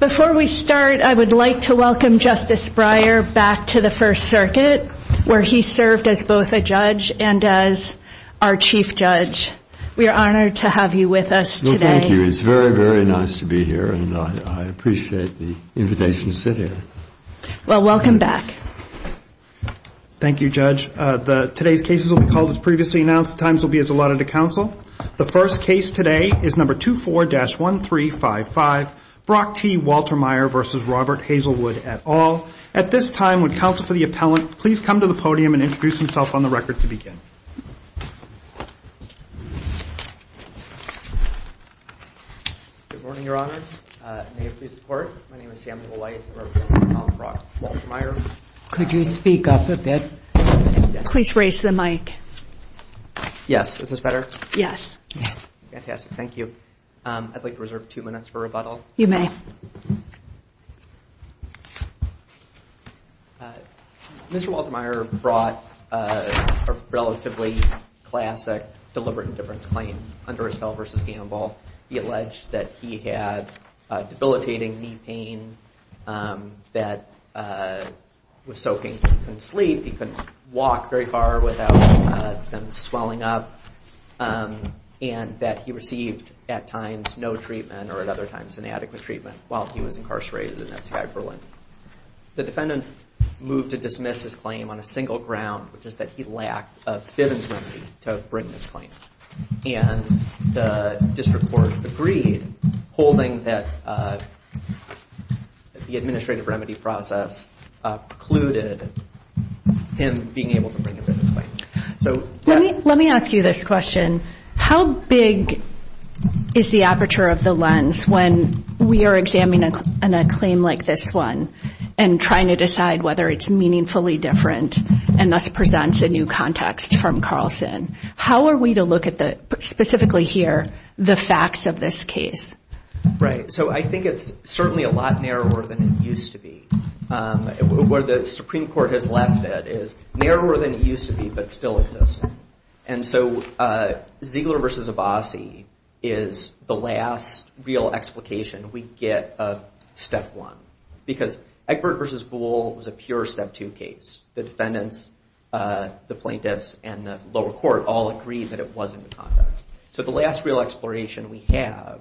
Before we start, I would like to welcome Justice Breyer back to the First Circuit, where he served as both a judge and as our Chief Judge. We are honored to have you with us today. Thank you. It's very, very nice to be here, and I appreciate the invitation to sit here. Well, welcome back. Thank you, Judge. Today's cases will be called as previously announced. The times will be as allotted to counsel. The first case today is No. 24-1355, Brock T. Waltermeyer v. Robert Hazlewood, et al. At this time, would counsel for the appellant please come to the podium and introduce himself on the record to begin? Good morning, Your Honor. May it please the Court? My name is Samuel Weiss, and I represent Robert T. Waltermeyer. Could you speak up a bit? Please raise the mic. Yes. Is this better? Fantastic. Thank you. I'd like to reserve two minutes for rebuttal. You may. Mr. Waltermeyer brought a relatively classic deliberate indifference claim under his cell v. Gamble. He alleged that he had debilitating knee pain that was so painful he couldn't sleep. He couldn't walk very far without them swelling up. And that he received at times no treatment or at other times inadequate treatment while he was incarcerated in NCI Berlin. The defendant moved to dismiss his claim on a single ground, which is that he lacked a bivens remedy to bring his claim. And the district court agreed, holding that the administrative remedy process precluded him being able to bring a bivens claim. Let me ask you this question. How big is the aperture of the lens when we are examining a claim like this one and trying to decide whether it's meaningfully different and thus presents a new context from Carlson? How are we to look at, specifically here, the facts of this case? Right. So I think it's certainly a lot narrower than it used to be. Where the Supreme Court has left that is narrower than it used to be but still exists. And so Ziegler v. Abbasi is the last real explication we get of Step 1. Because Egbert v. Boole was a pure Step 2 case. The defendants, the plaintiffs, and the lower court all agreed that it wasn't the context. So the last real exploration we have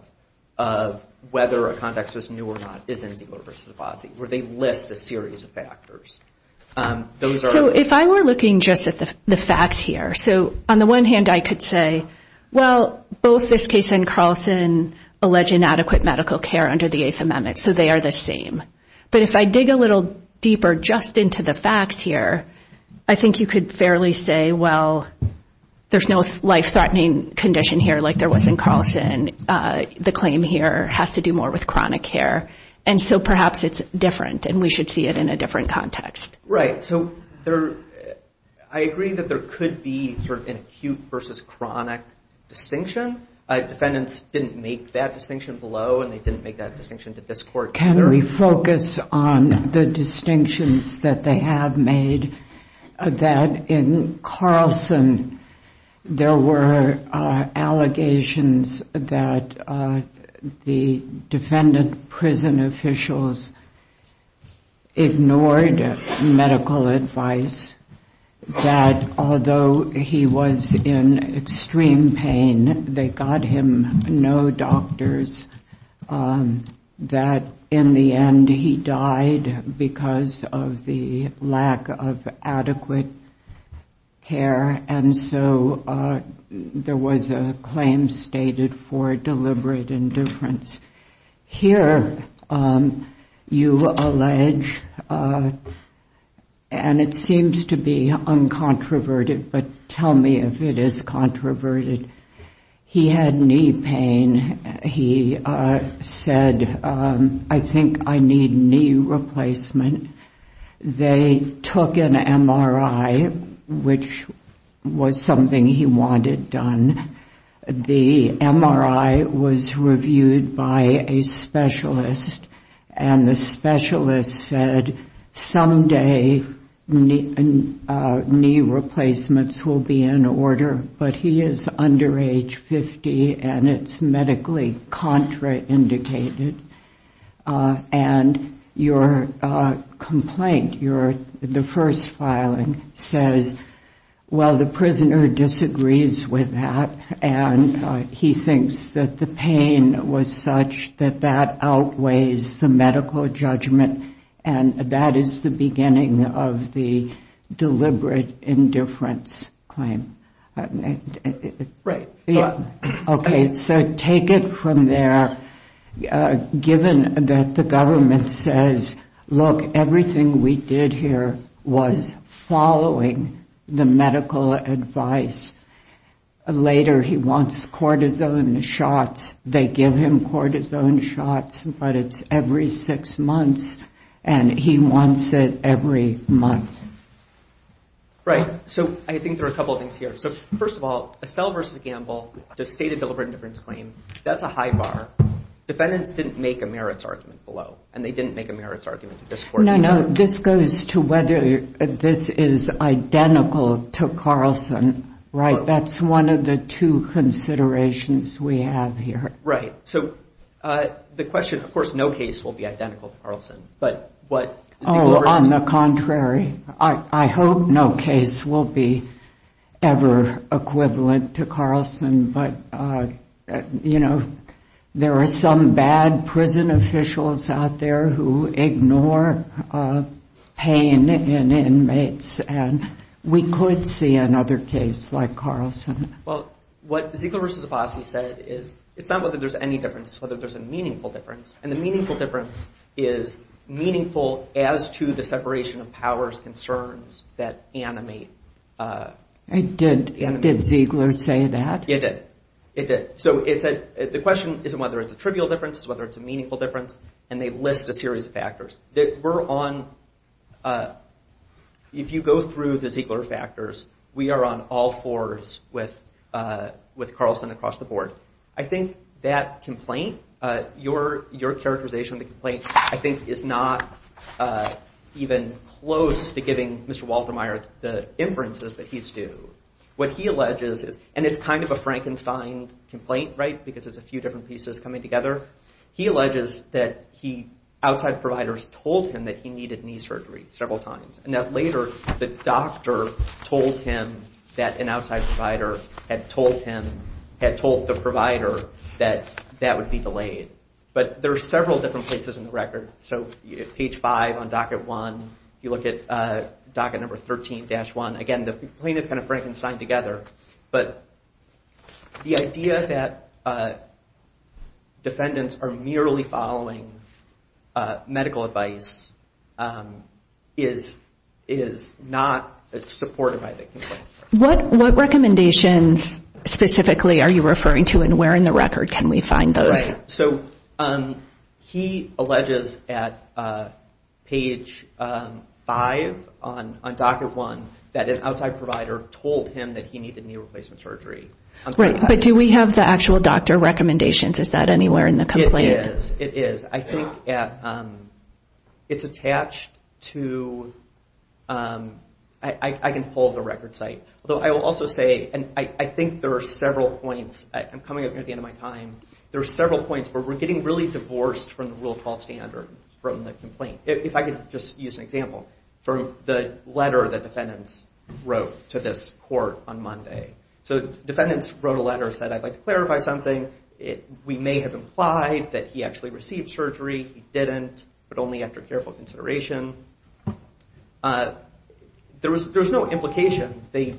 of whether a context is new or not is in Ziegler v. Abbasi, where they list a series of factors. So if I were looking just at the facts here, so on the one hand I could say, well, both this case and Carlson allege inadequate medical care under the Eighth Amendment, so they are the same. But if I dig a little deeper just into the facts here, I think you could fairly say, well, there's no life-threatening condition here like there was in Carlson. The claim here has to do more with chronic care. And so perhaps it's different and we should see it in a different context. Right. So I agree that there could be an acute versus chronic distinction. Defendants didn't make that distinction below and they didn't make that distinction to this court either. Can we focus on the distinctions that they have made, that in Carlson there were allegations that the defendant prison officials ignored medical advice, that although he was in extreme pain, they got him no doctors, that in the end he died because of the lack of adequate care. And so there was a claim stated for deliberate indifference. Here you allege, and it seems to be uncontroverted, but tell me if it is controverted, he had knee pain. He said, I think I need knee replacement. They took an MRI, which was something he wanted done. The MRI was reviewed by a specialist and the specialist said, someday knee replacements will be in order. But he is under age 50 and it's medically contraindicated. And your complaint, the first filing, says, well, the prisoner disagrees with that. And he thinks that the pain was such that that outweighs the medical judgment. And that is the beginning of the deliberate indifference claim. So take it from there, given that the government says, look, everything we did here was following the medical advice. Later he wants cortisone shots. They give him cortisone shots, but it's every six months. And he wants it every month. Right. So I think there are a couple of things here. So first of all, Estelle v. Gamble, the stated deliberate indifference claim, that's a high bar. Defendants didn't make a merits argument below and they didn't make a merits argument at this point. No, no. This goes to whether this is identical to Carlson, right? That's one of the two considerations we have here. Right. So the question, of course, no case will be identical to Carlson. Oh, on the contrary. I hope no case will be ever equivalent to Carlson. But, you know, there are some bad prison officials out there who ignore pain in inmates. And we could see another case like Carlson. Well, what Ziegler v. Vassi said is it's not whether there's any difference, it's whether there's a meaningful difference. And the meaningful difference is meaningful as to the separation of powers concerns that animate. Did Ziegler say that? It did. So the question isn't whether it's a trivial difference, it's whether it's a meaningful difference. And they list a series of factors. If you go through the Ziegler factors, we are on all fours with Carlson across the board. I think that complaint, your characterization of the complaint, I think is not even close to giving Mr. Waltermeier the inferences that he's due. What he alleges is, and it's kind of a Frankenstein complaint, right, because it's a few different pieces coming together. He alleges that outside providers told him that he needed knee surgery several times. And that later the doctor told him that an outside provider had told him, had told the provider that that would be delayed. But there are several different places in the record. So page five on docket one, you look at docket number 13-1. Again, the complaint is kind of Frankenstein together. But the idea that defendants are merely following medical advice is not supported by the complaint. What recommendations specifically are you referring to and where in the record can we find those? He alleges at page five on docket one that an outside provider told him that he needed knee replacement surgery. But do we have the actual doctor recommendations? Is that anywhere in the complaint? It is. I think it's attached to, I can pull the record site. Although I will also say, and I think there are several points, I'm coming up near the end of my time, there are several points where we're getting really divorced from the Rule 12 standard from the complaint. If I could just use an example, from the letter that defendants wrote to this court on Monday. So defendants wrote a letter and said, I'd like to clarify something. We may have implied that he actually received surgery. He didn't, but only after careful consideration. There was no implication. They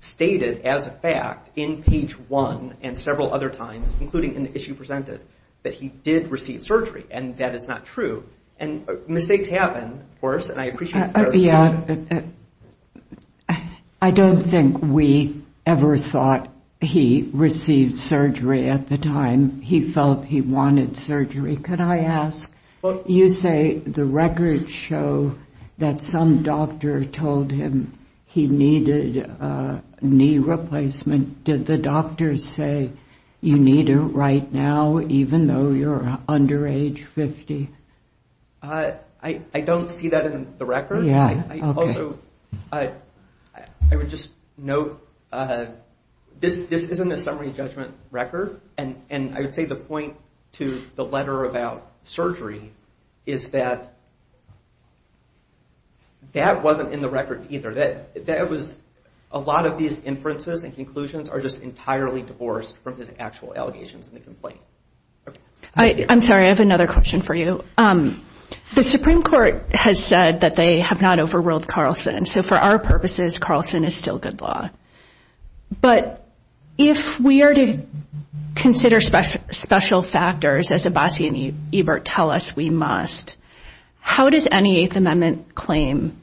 stated as a fact in page one and several other times, including in the issue presented, that he did receive surgery. And that is not true. And mistakes happen, of course, and I appreciate the clarification. I don't think we ever thought he received surgery at the time he felt he wanted surgery. Could I ask, you say the records show that some doctor told him he needed knee replacement. Did the doctor say you need it right now, even though you're under age 50? I don't see that in the record. I would just note, this isn't a summary judgment record. And I would say the point to the letter about surgery is that that wasn't in the record either. That was, a lot of these inferences and conclusions are just entirely divorced from his actual allegations in the complaint. I'm sorry, I have another question for you. The Supreme Court has said that they have not overruled Carlson. So for our purposes, Carlson is still good law. But if we are to consider special factors, as Abbasi and Ebert tell us we must, how does any Eighth Amendment claim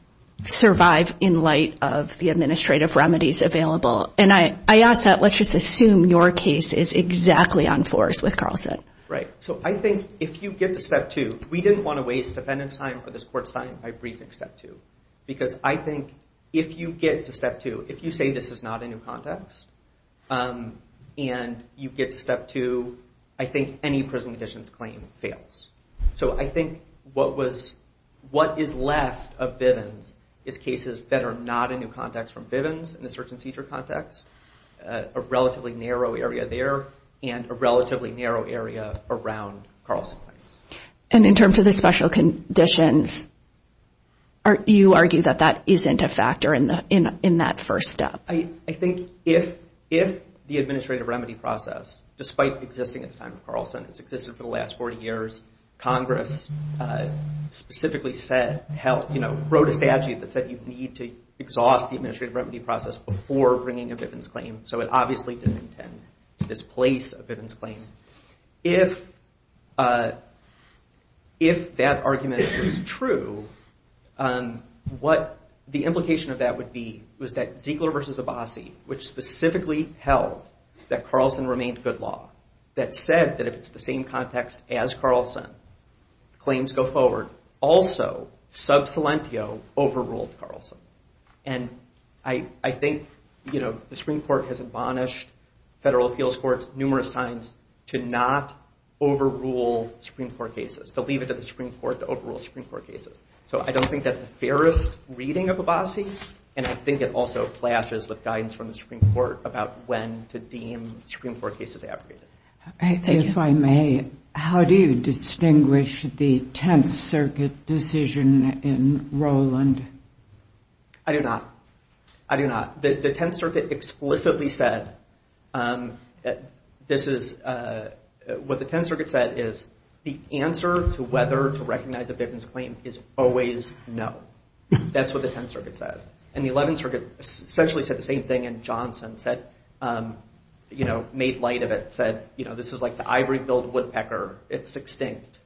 survive in light of the administrative remedies available? And I ask that, let's just assume your case is exactly on force with Carlson. Right, so I think if you get to step two, we didn't want to waste defendant's time or this court's time by briefing step two. Because I think if you get to step two, if you say this is not a new context, and you get to step two, I think any prison conditions claim fails. So I think what is left of Bivens is cases that are not a new context from Bivens in the search and seizure context. A relatively narrow area there and a relatively narrow area around Carlson claims. And in terms of the special conditions, you argue that that isn't a factor in that first step? I think if the administrative remedy process, despite existing at the time of Carlson, it's existed for the last 40 years, Congress specifically said, wrote a statute that said you need to exhaust the administrative remedy process before bringing a Bivens claim. So it obviously didn't intend to displace a Bivens claim. If that argument is true, what the implication of that would be, was that Ziegler v. Abbasi, which specifically held that Carlson remained good law, that said that if it's the same context as Carlson, claims go forward. Also, sub salentio overruled Carlson. And I think the Supreme Court has admonished federal appeals courts numerous times to not overrule Supreme Court cases. To leave it to the Supreme Court to overrule Supreme Court cases. And I think it also clashes with guidance from the Supreme Court about when to deem Supreme Court cases abrogated. If I may, how do you distinguish the Tenth Circuit decision in Rowland? I do not. I do not. The Tenth Circuit explicitly said, what the Tenth Circuit said is the answer to whether to recognize a Bivens claim is always no. That's what the Tenth Circuit said. And the Eleventh Circuit essentially said the same thing, and Johnson said, made light of it, said this is like the ivory-billed woodpecker. It's extinct.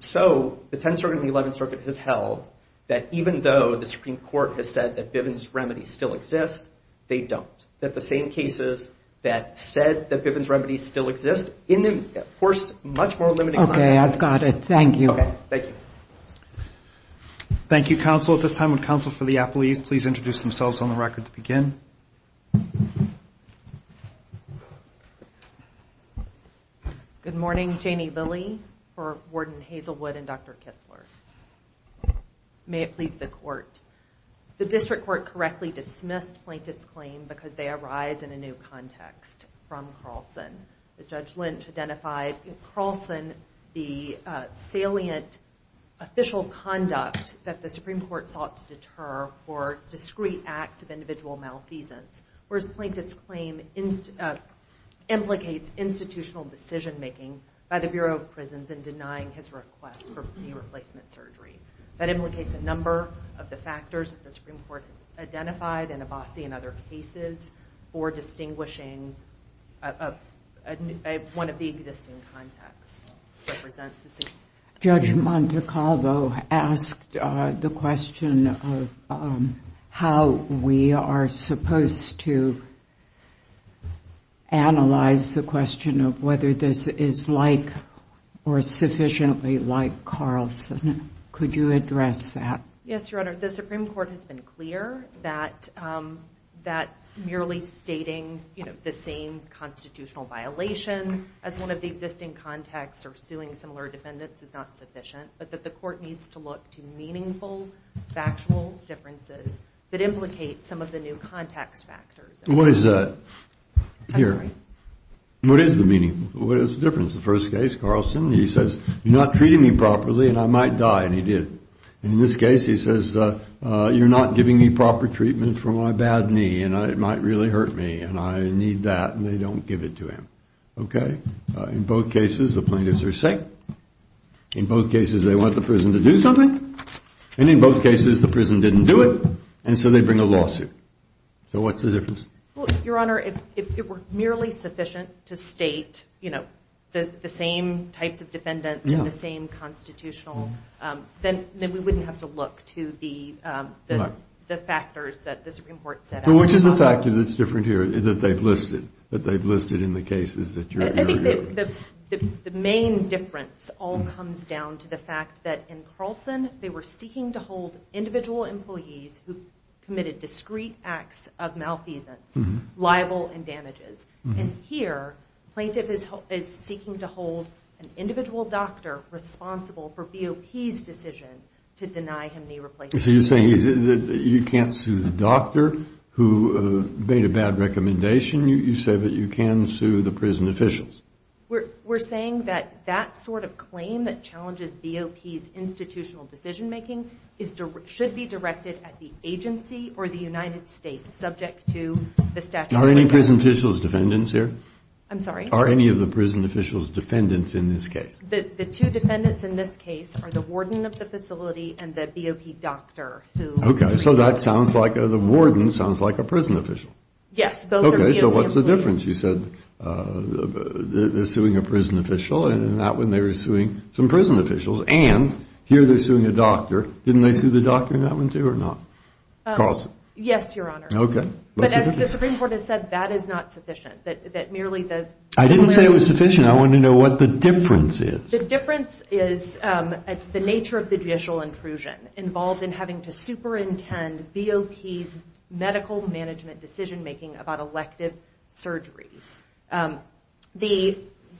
So the Tenth Circuit and the Eleventh Circuit has held that even though the Supreme Court has said that Bivens remedies still exist, they don't. That the same cases that said that Bivens remedies still exist in the, of course, much more limited context. Okay, I've got it. Thank you. Thank you, counsel. At this time, would counsel for the appellees please introduce themselves on the record to begin? Good morning. Janie Lilley for Warden Hazelwood and Dr. Kistler. May it please the Court. The District Court correctly dismissed plaintiff's claim because they arise in a new context from Carlson. As Judge Lynch identified, Carlson, the salient official conduct that the Supreme Court sought to deter for discrete acts of individual malfeasance. Whereas plaintiff's claim implicates institutional decision-making by the Bureau of Prisons in denying his request for knee replacement surgery. That implicates a number of the factors that the Supreme Court has identified in Abbasi and other cases for distinguishing one of the existing contexts. Judge Montecalvo asked the question of how we are supposed to analyze the question of whether this is like or sufficiently like Carlson. Could you address that? Yes, Your Honor. The Supreme Court has been clear that merely stating the same constitutional violation as one of the existing contexts or suing similar defendants is not sufficient, but that the Court needs to look to meaningful, factual differences that implicate some of the new context factors. What is the meaning? What is the difference? The first case, Carlson, he says, you're not treating me properly and I might die, and he did. In this case, he says, you're not giving me proper treatment for my bad knee and it might really hurt me and I need that, and they don't give it to him. Okay? In both cases, the plaintiffs are sick. In both cases, they want the prison to do something, and in both cases, the prison didn't do it, and so they bring a lawsuit. So what's the difference? Your Honor, if it were merely sufficient to state, you know, the same types of defendants and the same constitutional, then we wouldn't have to look to the factors that the Supreme Court set out. Well, which is the factor that's different here that they've listed, that they've listed in the cases that you're arguing? I think the main difference all comes down to the fact that in Carlson, they were seeking to hold individual employees who committed discrete acts of malfeasance liable and damages, and here, plaintiff is seeking to hold an individual doctor responsible for BOP's decision to deny him knee replacement. So you're saying you can't sue the doctor who made a bad recommendation? You say that you can sue the prison officials? We're saying that that sort of claim that challenges BOP's institutional decision-making should be directed at the agency or the United States subject to the statute of limitations. Are any prison officials defendants here? I'm sorry? Are any of the prison officials defendants in this case? The two defendants in this case are the warden of the facility and the BOP doctor. Okay, so the warden sounds like a prison official. Yes. Okay, so what's the difference? You said they're suing a prison official, and in that one, they were suing some prison officials, and here they're suing a doctor. Didn't they sue the doctor in that one, too, or not? Yes, Your Honor. But as the Supreme Court has said, that is not sufficient. I didn't say it was sufficient. I want to know what the difference is. The difference is the nature of the judicial intrusion involved in having to superintend BOP's medical management decision-making about elective surgeries.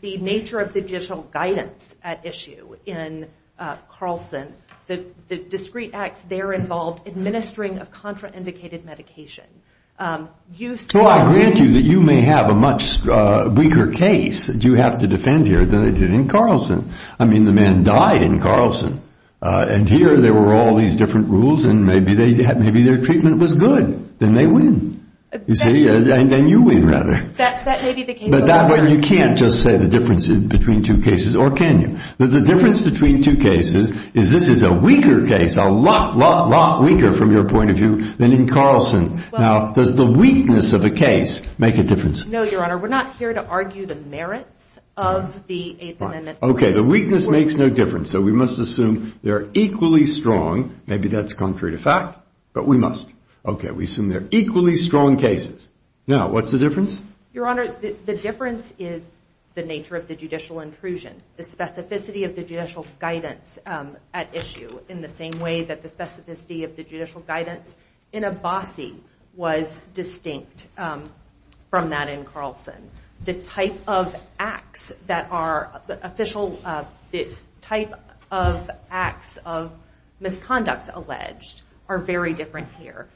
The nature of the judicial guidance at issue in Carlson, the discrete acts there involved administering of contraindicated medication. Well, I grant you that you may have a much weaker case that you have to defend here than they did in Carlson. I mean, the man died in Carlson, and here there were all these different rules, and maybe their treatment was good. Then they win. You see? Then you win, rather. But that way, you can't just say the difference is between two cases, or can you? The difference between two cases is this is a weaker case, a lot, lot, lot weaker from your point of view than in Carlson. Now, does the weakness of a case make a difference? No, Your Honor. We're not here to argue the merits of the Eighth Amendment. Okay. The weakness makes no difference, so we must assume they're equally strong. Maybe that's concrete a fact, but we must. Okay. We assume they're equally strong cases. Now, what's the difference? Your Honor, the difference is the nature of the judicial intrusion, the specificity of the judicial guidance at issue, in the same way that the specificity of the judicial guidance in Abbasi was distinct from that in Carlson. The type of acts of misconduct alleged are very different here.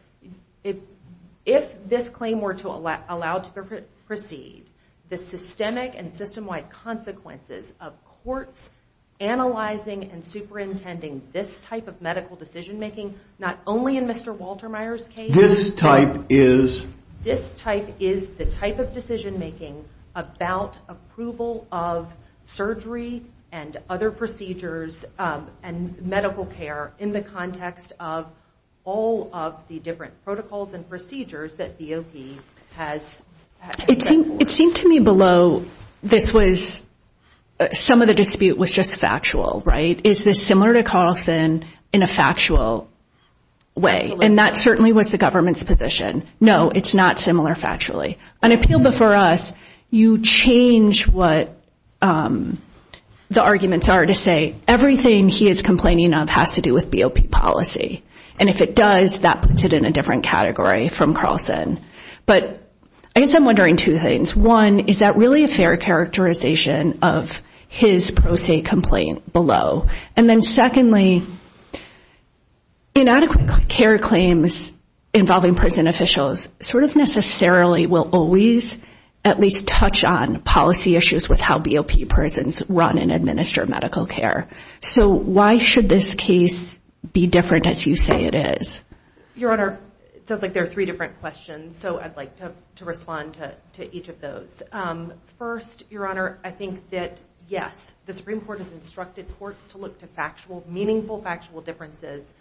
If this claim were to allow to proceed, the systemic and system-wide consequences of courts analyzing and superintending this type of medical decision-making, not only in Mr. Waltermeier's case. This type is? This type is the type of decision-making about approval of surgery and other procedures and medical care in the context of all of the different protocols and procedures that BOP has. It seemed to me below this was some of the dispute was just factual, right? Is this similar to Carlson in a factual way? And that certainly was the government's position. No, it's not similar factually. On appeal before us, you change what the arguments are to say everything he is complaining of has to do with BOP policy. And if it does, that puts it in a different category from Carlson. But I guess I'm wondering two things. One, is that really a fair characterization of his pro se complaint below? And then secondly, inadequate care claims involving prison officials sort of necessarily will always at least touch on policy issues with how BOP prisons run and administer medical care. So why should this case be different as you say it is? Your Honor, it sounds like there are three different questions, so I'd like to respond to each of those. First, Your Honor, I think that yes, the Supreme Court has instructed courts to look to factual, meaningful factual differences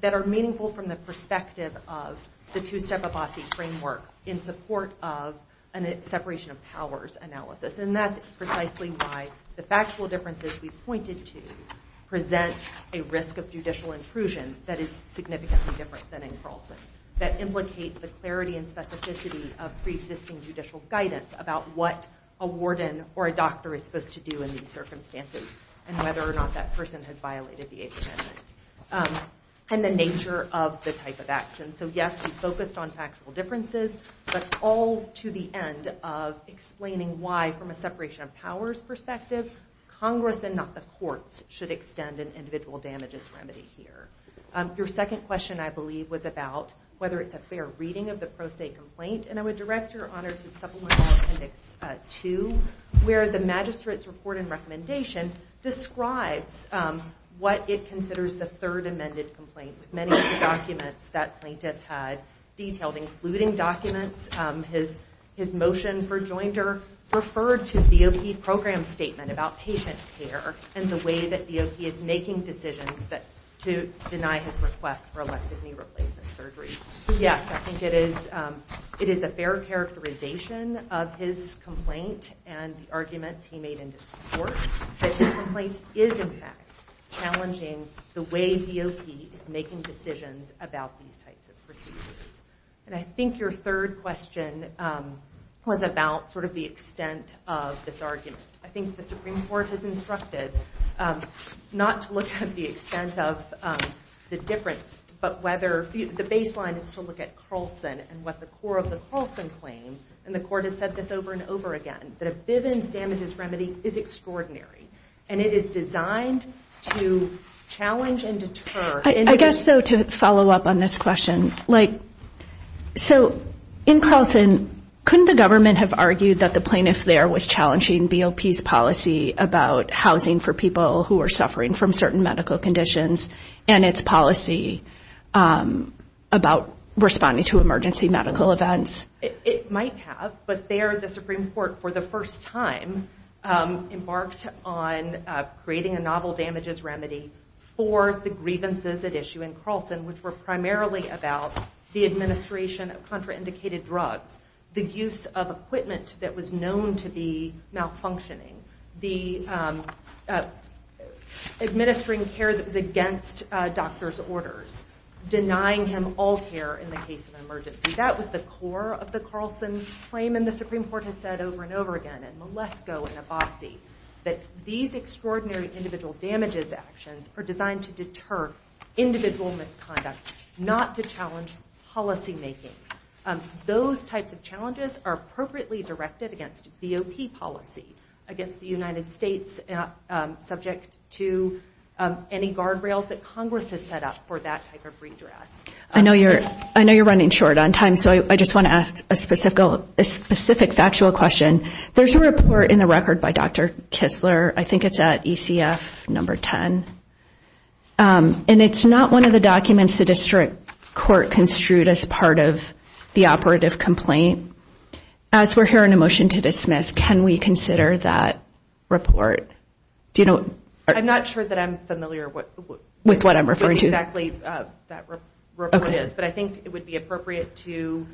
that are meaningful from the perspective of the two-step Abbasi framework in support of a separation of powers analysis. And that's precisely why the factual differences we pointed to present a risk of judicial intrusion that is significant. And that's why it should be different than in Carlson. That implicates the clarity and specificity of pre-existing judicial guidance about what a warden or a doctor is supposed to do in these circumstances and whether or not that person has violated the Eighth Amendment and the nature of the type of action. So yes, we focused on factual differences, but all to the end of explaining why, from a separation of powers perspective, Congress and not the courts should extend an individual damages remedy here. Your second question, I believe, was about whether it's a fair reading of the pro se complaint. And I would direct Your Honor to Supplemental Appendix 2, where the Magistrate's Report and Recommendation describes what it considers the Third Amended Complaint. With many of the documents that plaintiff had detailed, including documents, his motion for joinder referred to BOP program statement about patient care and the way that BOP is making decisions to deny his request for elective knee replacement surgery. So yes, I think it is a fair characterization of his complaint and the arguments he made in his report. But his complaint is, in fact, challenging the way BOP is making decisions about these types of procedures. And I think your third question was about sort of the extent of this argument. I think the Supreme Court has instructed not to look at the extent of the difference, but whether the baseline is to look at Carlson and what the core of the Carlson claim, and the court has said this over and over again, that a Bivens damages remedy is extraordinary. And it is designed to challenge and deter. So in Carlson, couldn't the government have argued that the plaintiff there was challenging BOP's policy about housing for people who are suffering from certain medical conditions and its policy about responding to emergency medical events? It might have, but there the Supreme Court, for the first time, embarked on creating a novel damages remedy for the grievances at issue in Carlson, which were primarily about the administration of contraindicated drugs, the use of equipment that was known to be malfunctioning, administering care that was against doctors' orders, denying him all care in the case of an emergency. That was the core of the Carlson claim, and the Supreme Court has said over and over again, and Malesko and Abbasi, that these extraordinary individual damages actions are designed to deter individual misconduct, not to challenge policymaking. Those types of challenges are appropriately directed against BOP policy against the United States, subject to any guardrails that Congress has set up for that type of redress. I know you're running short on time, so I just want to ask a specific factual question. There's a report in the record by Dr. Kistler, I think it's at ECF number 10, and it's not one of the documents the district court construed as part of the operative complaint. As we're hearing a motion to dismiss, can we consider that report? I'm not sure that I'm familiar with what I'm referring to. I don't know what exactly that report is, but I think it would be appropriate to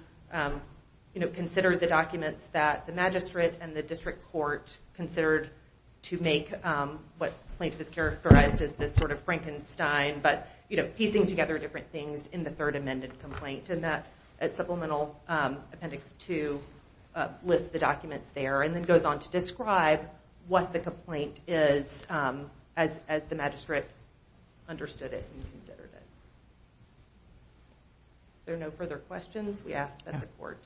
consider the documents that the magistrate and the district court considered to make what plaintiff has characterized as this sort of Frankenstein, but piecing together different things in the third amended complaint, and that supplemental appendix 2 lists the documents there, and then goes on to describe what the complaint is as the magistrate understood it and considered it. If there are no further questions, we ask that the court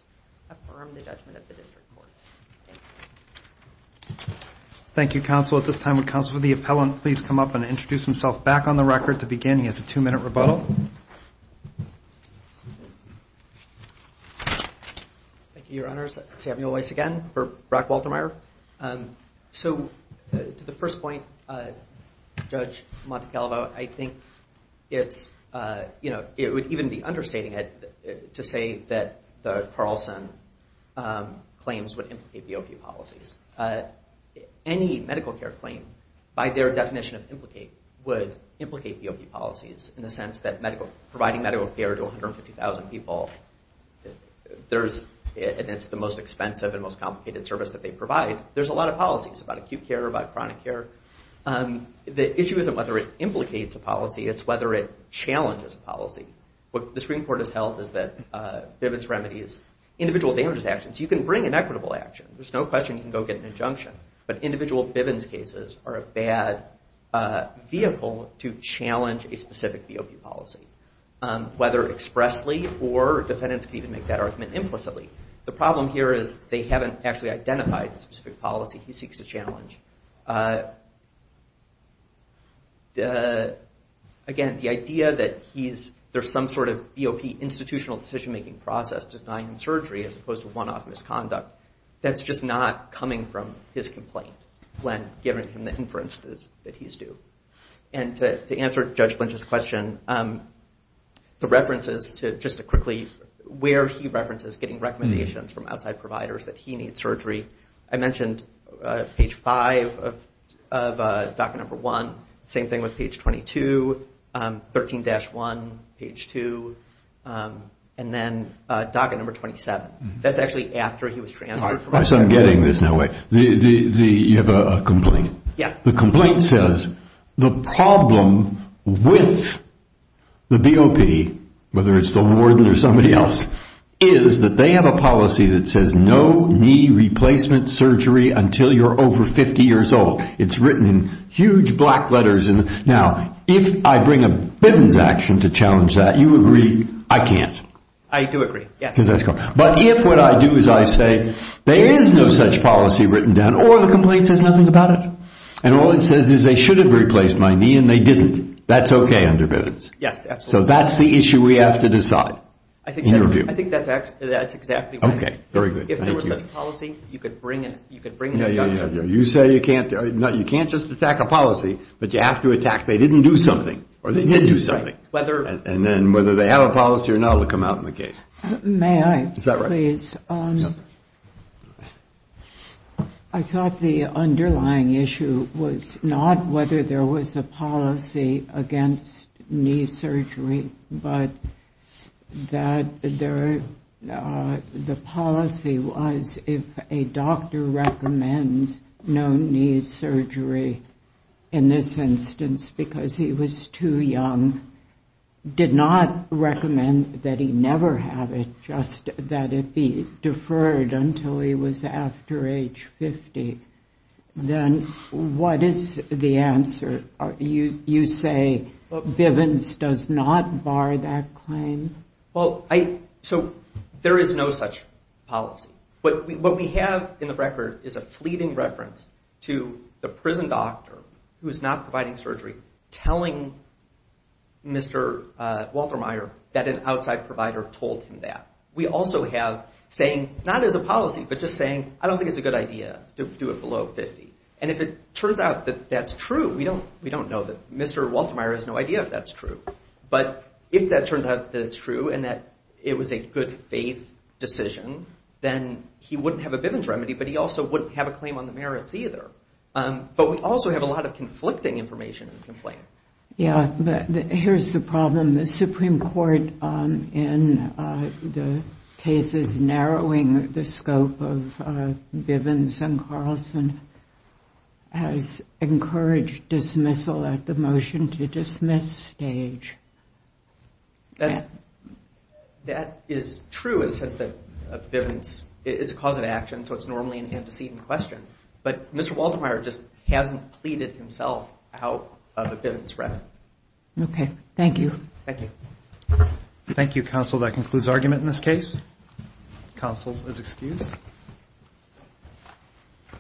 affirm the judgment of the district court. Thank you, counsel. At this time, would counsel for the appellant please come up and introduce himself back on the record to begin. He has a two-minute rebuttal. Thank you, your honors. Samuel Weiss again for Brock Waltermeyer. So to the first point, Judge Montecalvo, I think it's, you know, it would even be understating it to say that the Carlson claims would implicate BOP policies. Any medical care claim, by their definition of implicate, would implicate BOP policies in the sense that providing medical care to 150,000 people, and it's the most expensive and most complicated service that they provide. There's a lot of policies about acute care, about chronic care. The issue isn't whether it implicates a policy, it's whether it challenges a policy. What the Supreme Court has held is that Bivens remedies individual damages actions. You can bring an equitable action. There's no question you can go get an injunction. But individual Bivens cases are a bad vehicle to challenge a specific BOP policy. Whether expressly or defendants can even make that argument implicitly. The problem here is they haven't actually identified the specific policy he seeks to challenge. Again, the idea that there's some sort of BOP institutional decision-making process denying him surgery as opposed to one-off misconduct, that's just not coming from his complaint. When given him the inference that he's due. And to answer Judge Lynch's question, the references to, just quickly, where he references getting recommendations from outside providers that he needs surgery. I mentioned page 5 of docket number 1. Same thing with page 22, 13-1, page 2. And then docket number 27. That's actually after he was transferred. I'm getting this now. You have a complaint. The complaint says the problem with the BOP, whether it's the warden or somebody else, is that they have a policy that says no knee replacement surgery until you're over 50 years old. It's written in huge black letters. Now, if I bring a Bivens action to challenge that, you agree I can't. I do agree, yes. But if what I do is I say there is no such policy written down, or the complaint says nothing about it, and all it says is they should have replaced my knee and they didn't, that's okay under Bivens. Yes, absolutely. So that's the issue we have to decide. I think that's exactly right. Okay, very good. If there was such a policy, you could bring it. You say you can't. You can't just attack a policy, but you have to attack they didn't do something, or they did do something. And then whether they have a policy or not will come out in the case. May I, please? I thought the underlying issue was not whether there was a policy against knee surgery, but that the policy was if a doctor recommends no knee surgery, in this instance, because he was too young, did not recommend that he never have it, just that it be deferred until he was after age 50, then what is the answer? You say Bivens does not bar that claim? So there is no such policy. What we have in the record is a fleeting reference to the prison doctor who is not providing surgery telling Mr. Walter Meyer that an outside provider told him that. We also have saying, not as a policy, but just saying, I don't think it's a good idea to do it below 50. And if it turns out that that's true, we don't know that Mr. Walter Meyer has no idea if that's true. But if that turns out that it's true and that it was a good faith decision, then he wouldn't have a Bivens remedy, but he also wouldn't have a claim on the merits either. But we also have a lot of conflicting information in the complaint. Yeah, but here's the problem. The Supreme Court, in the cases narrowing the scope of Bivens and Carlson, has encouraged dismissal at the motion to dismiss stage. That is true in the sense that Bivens is a cause of action, so it's normally an antecedent question. But Mr. Walter Meyer just hasn't pleaded himself out of a Bivens remedy. Okay, thank you.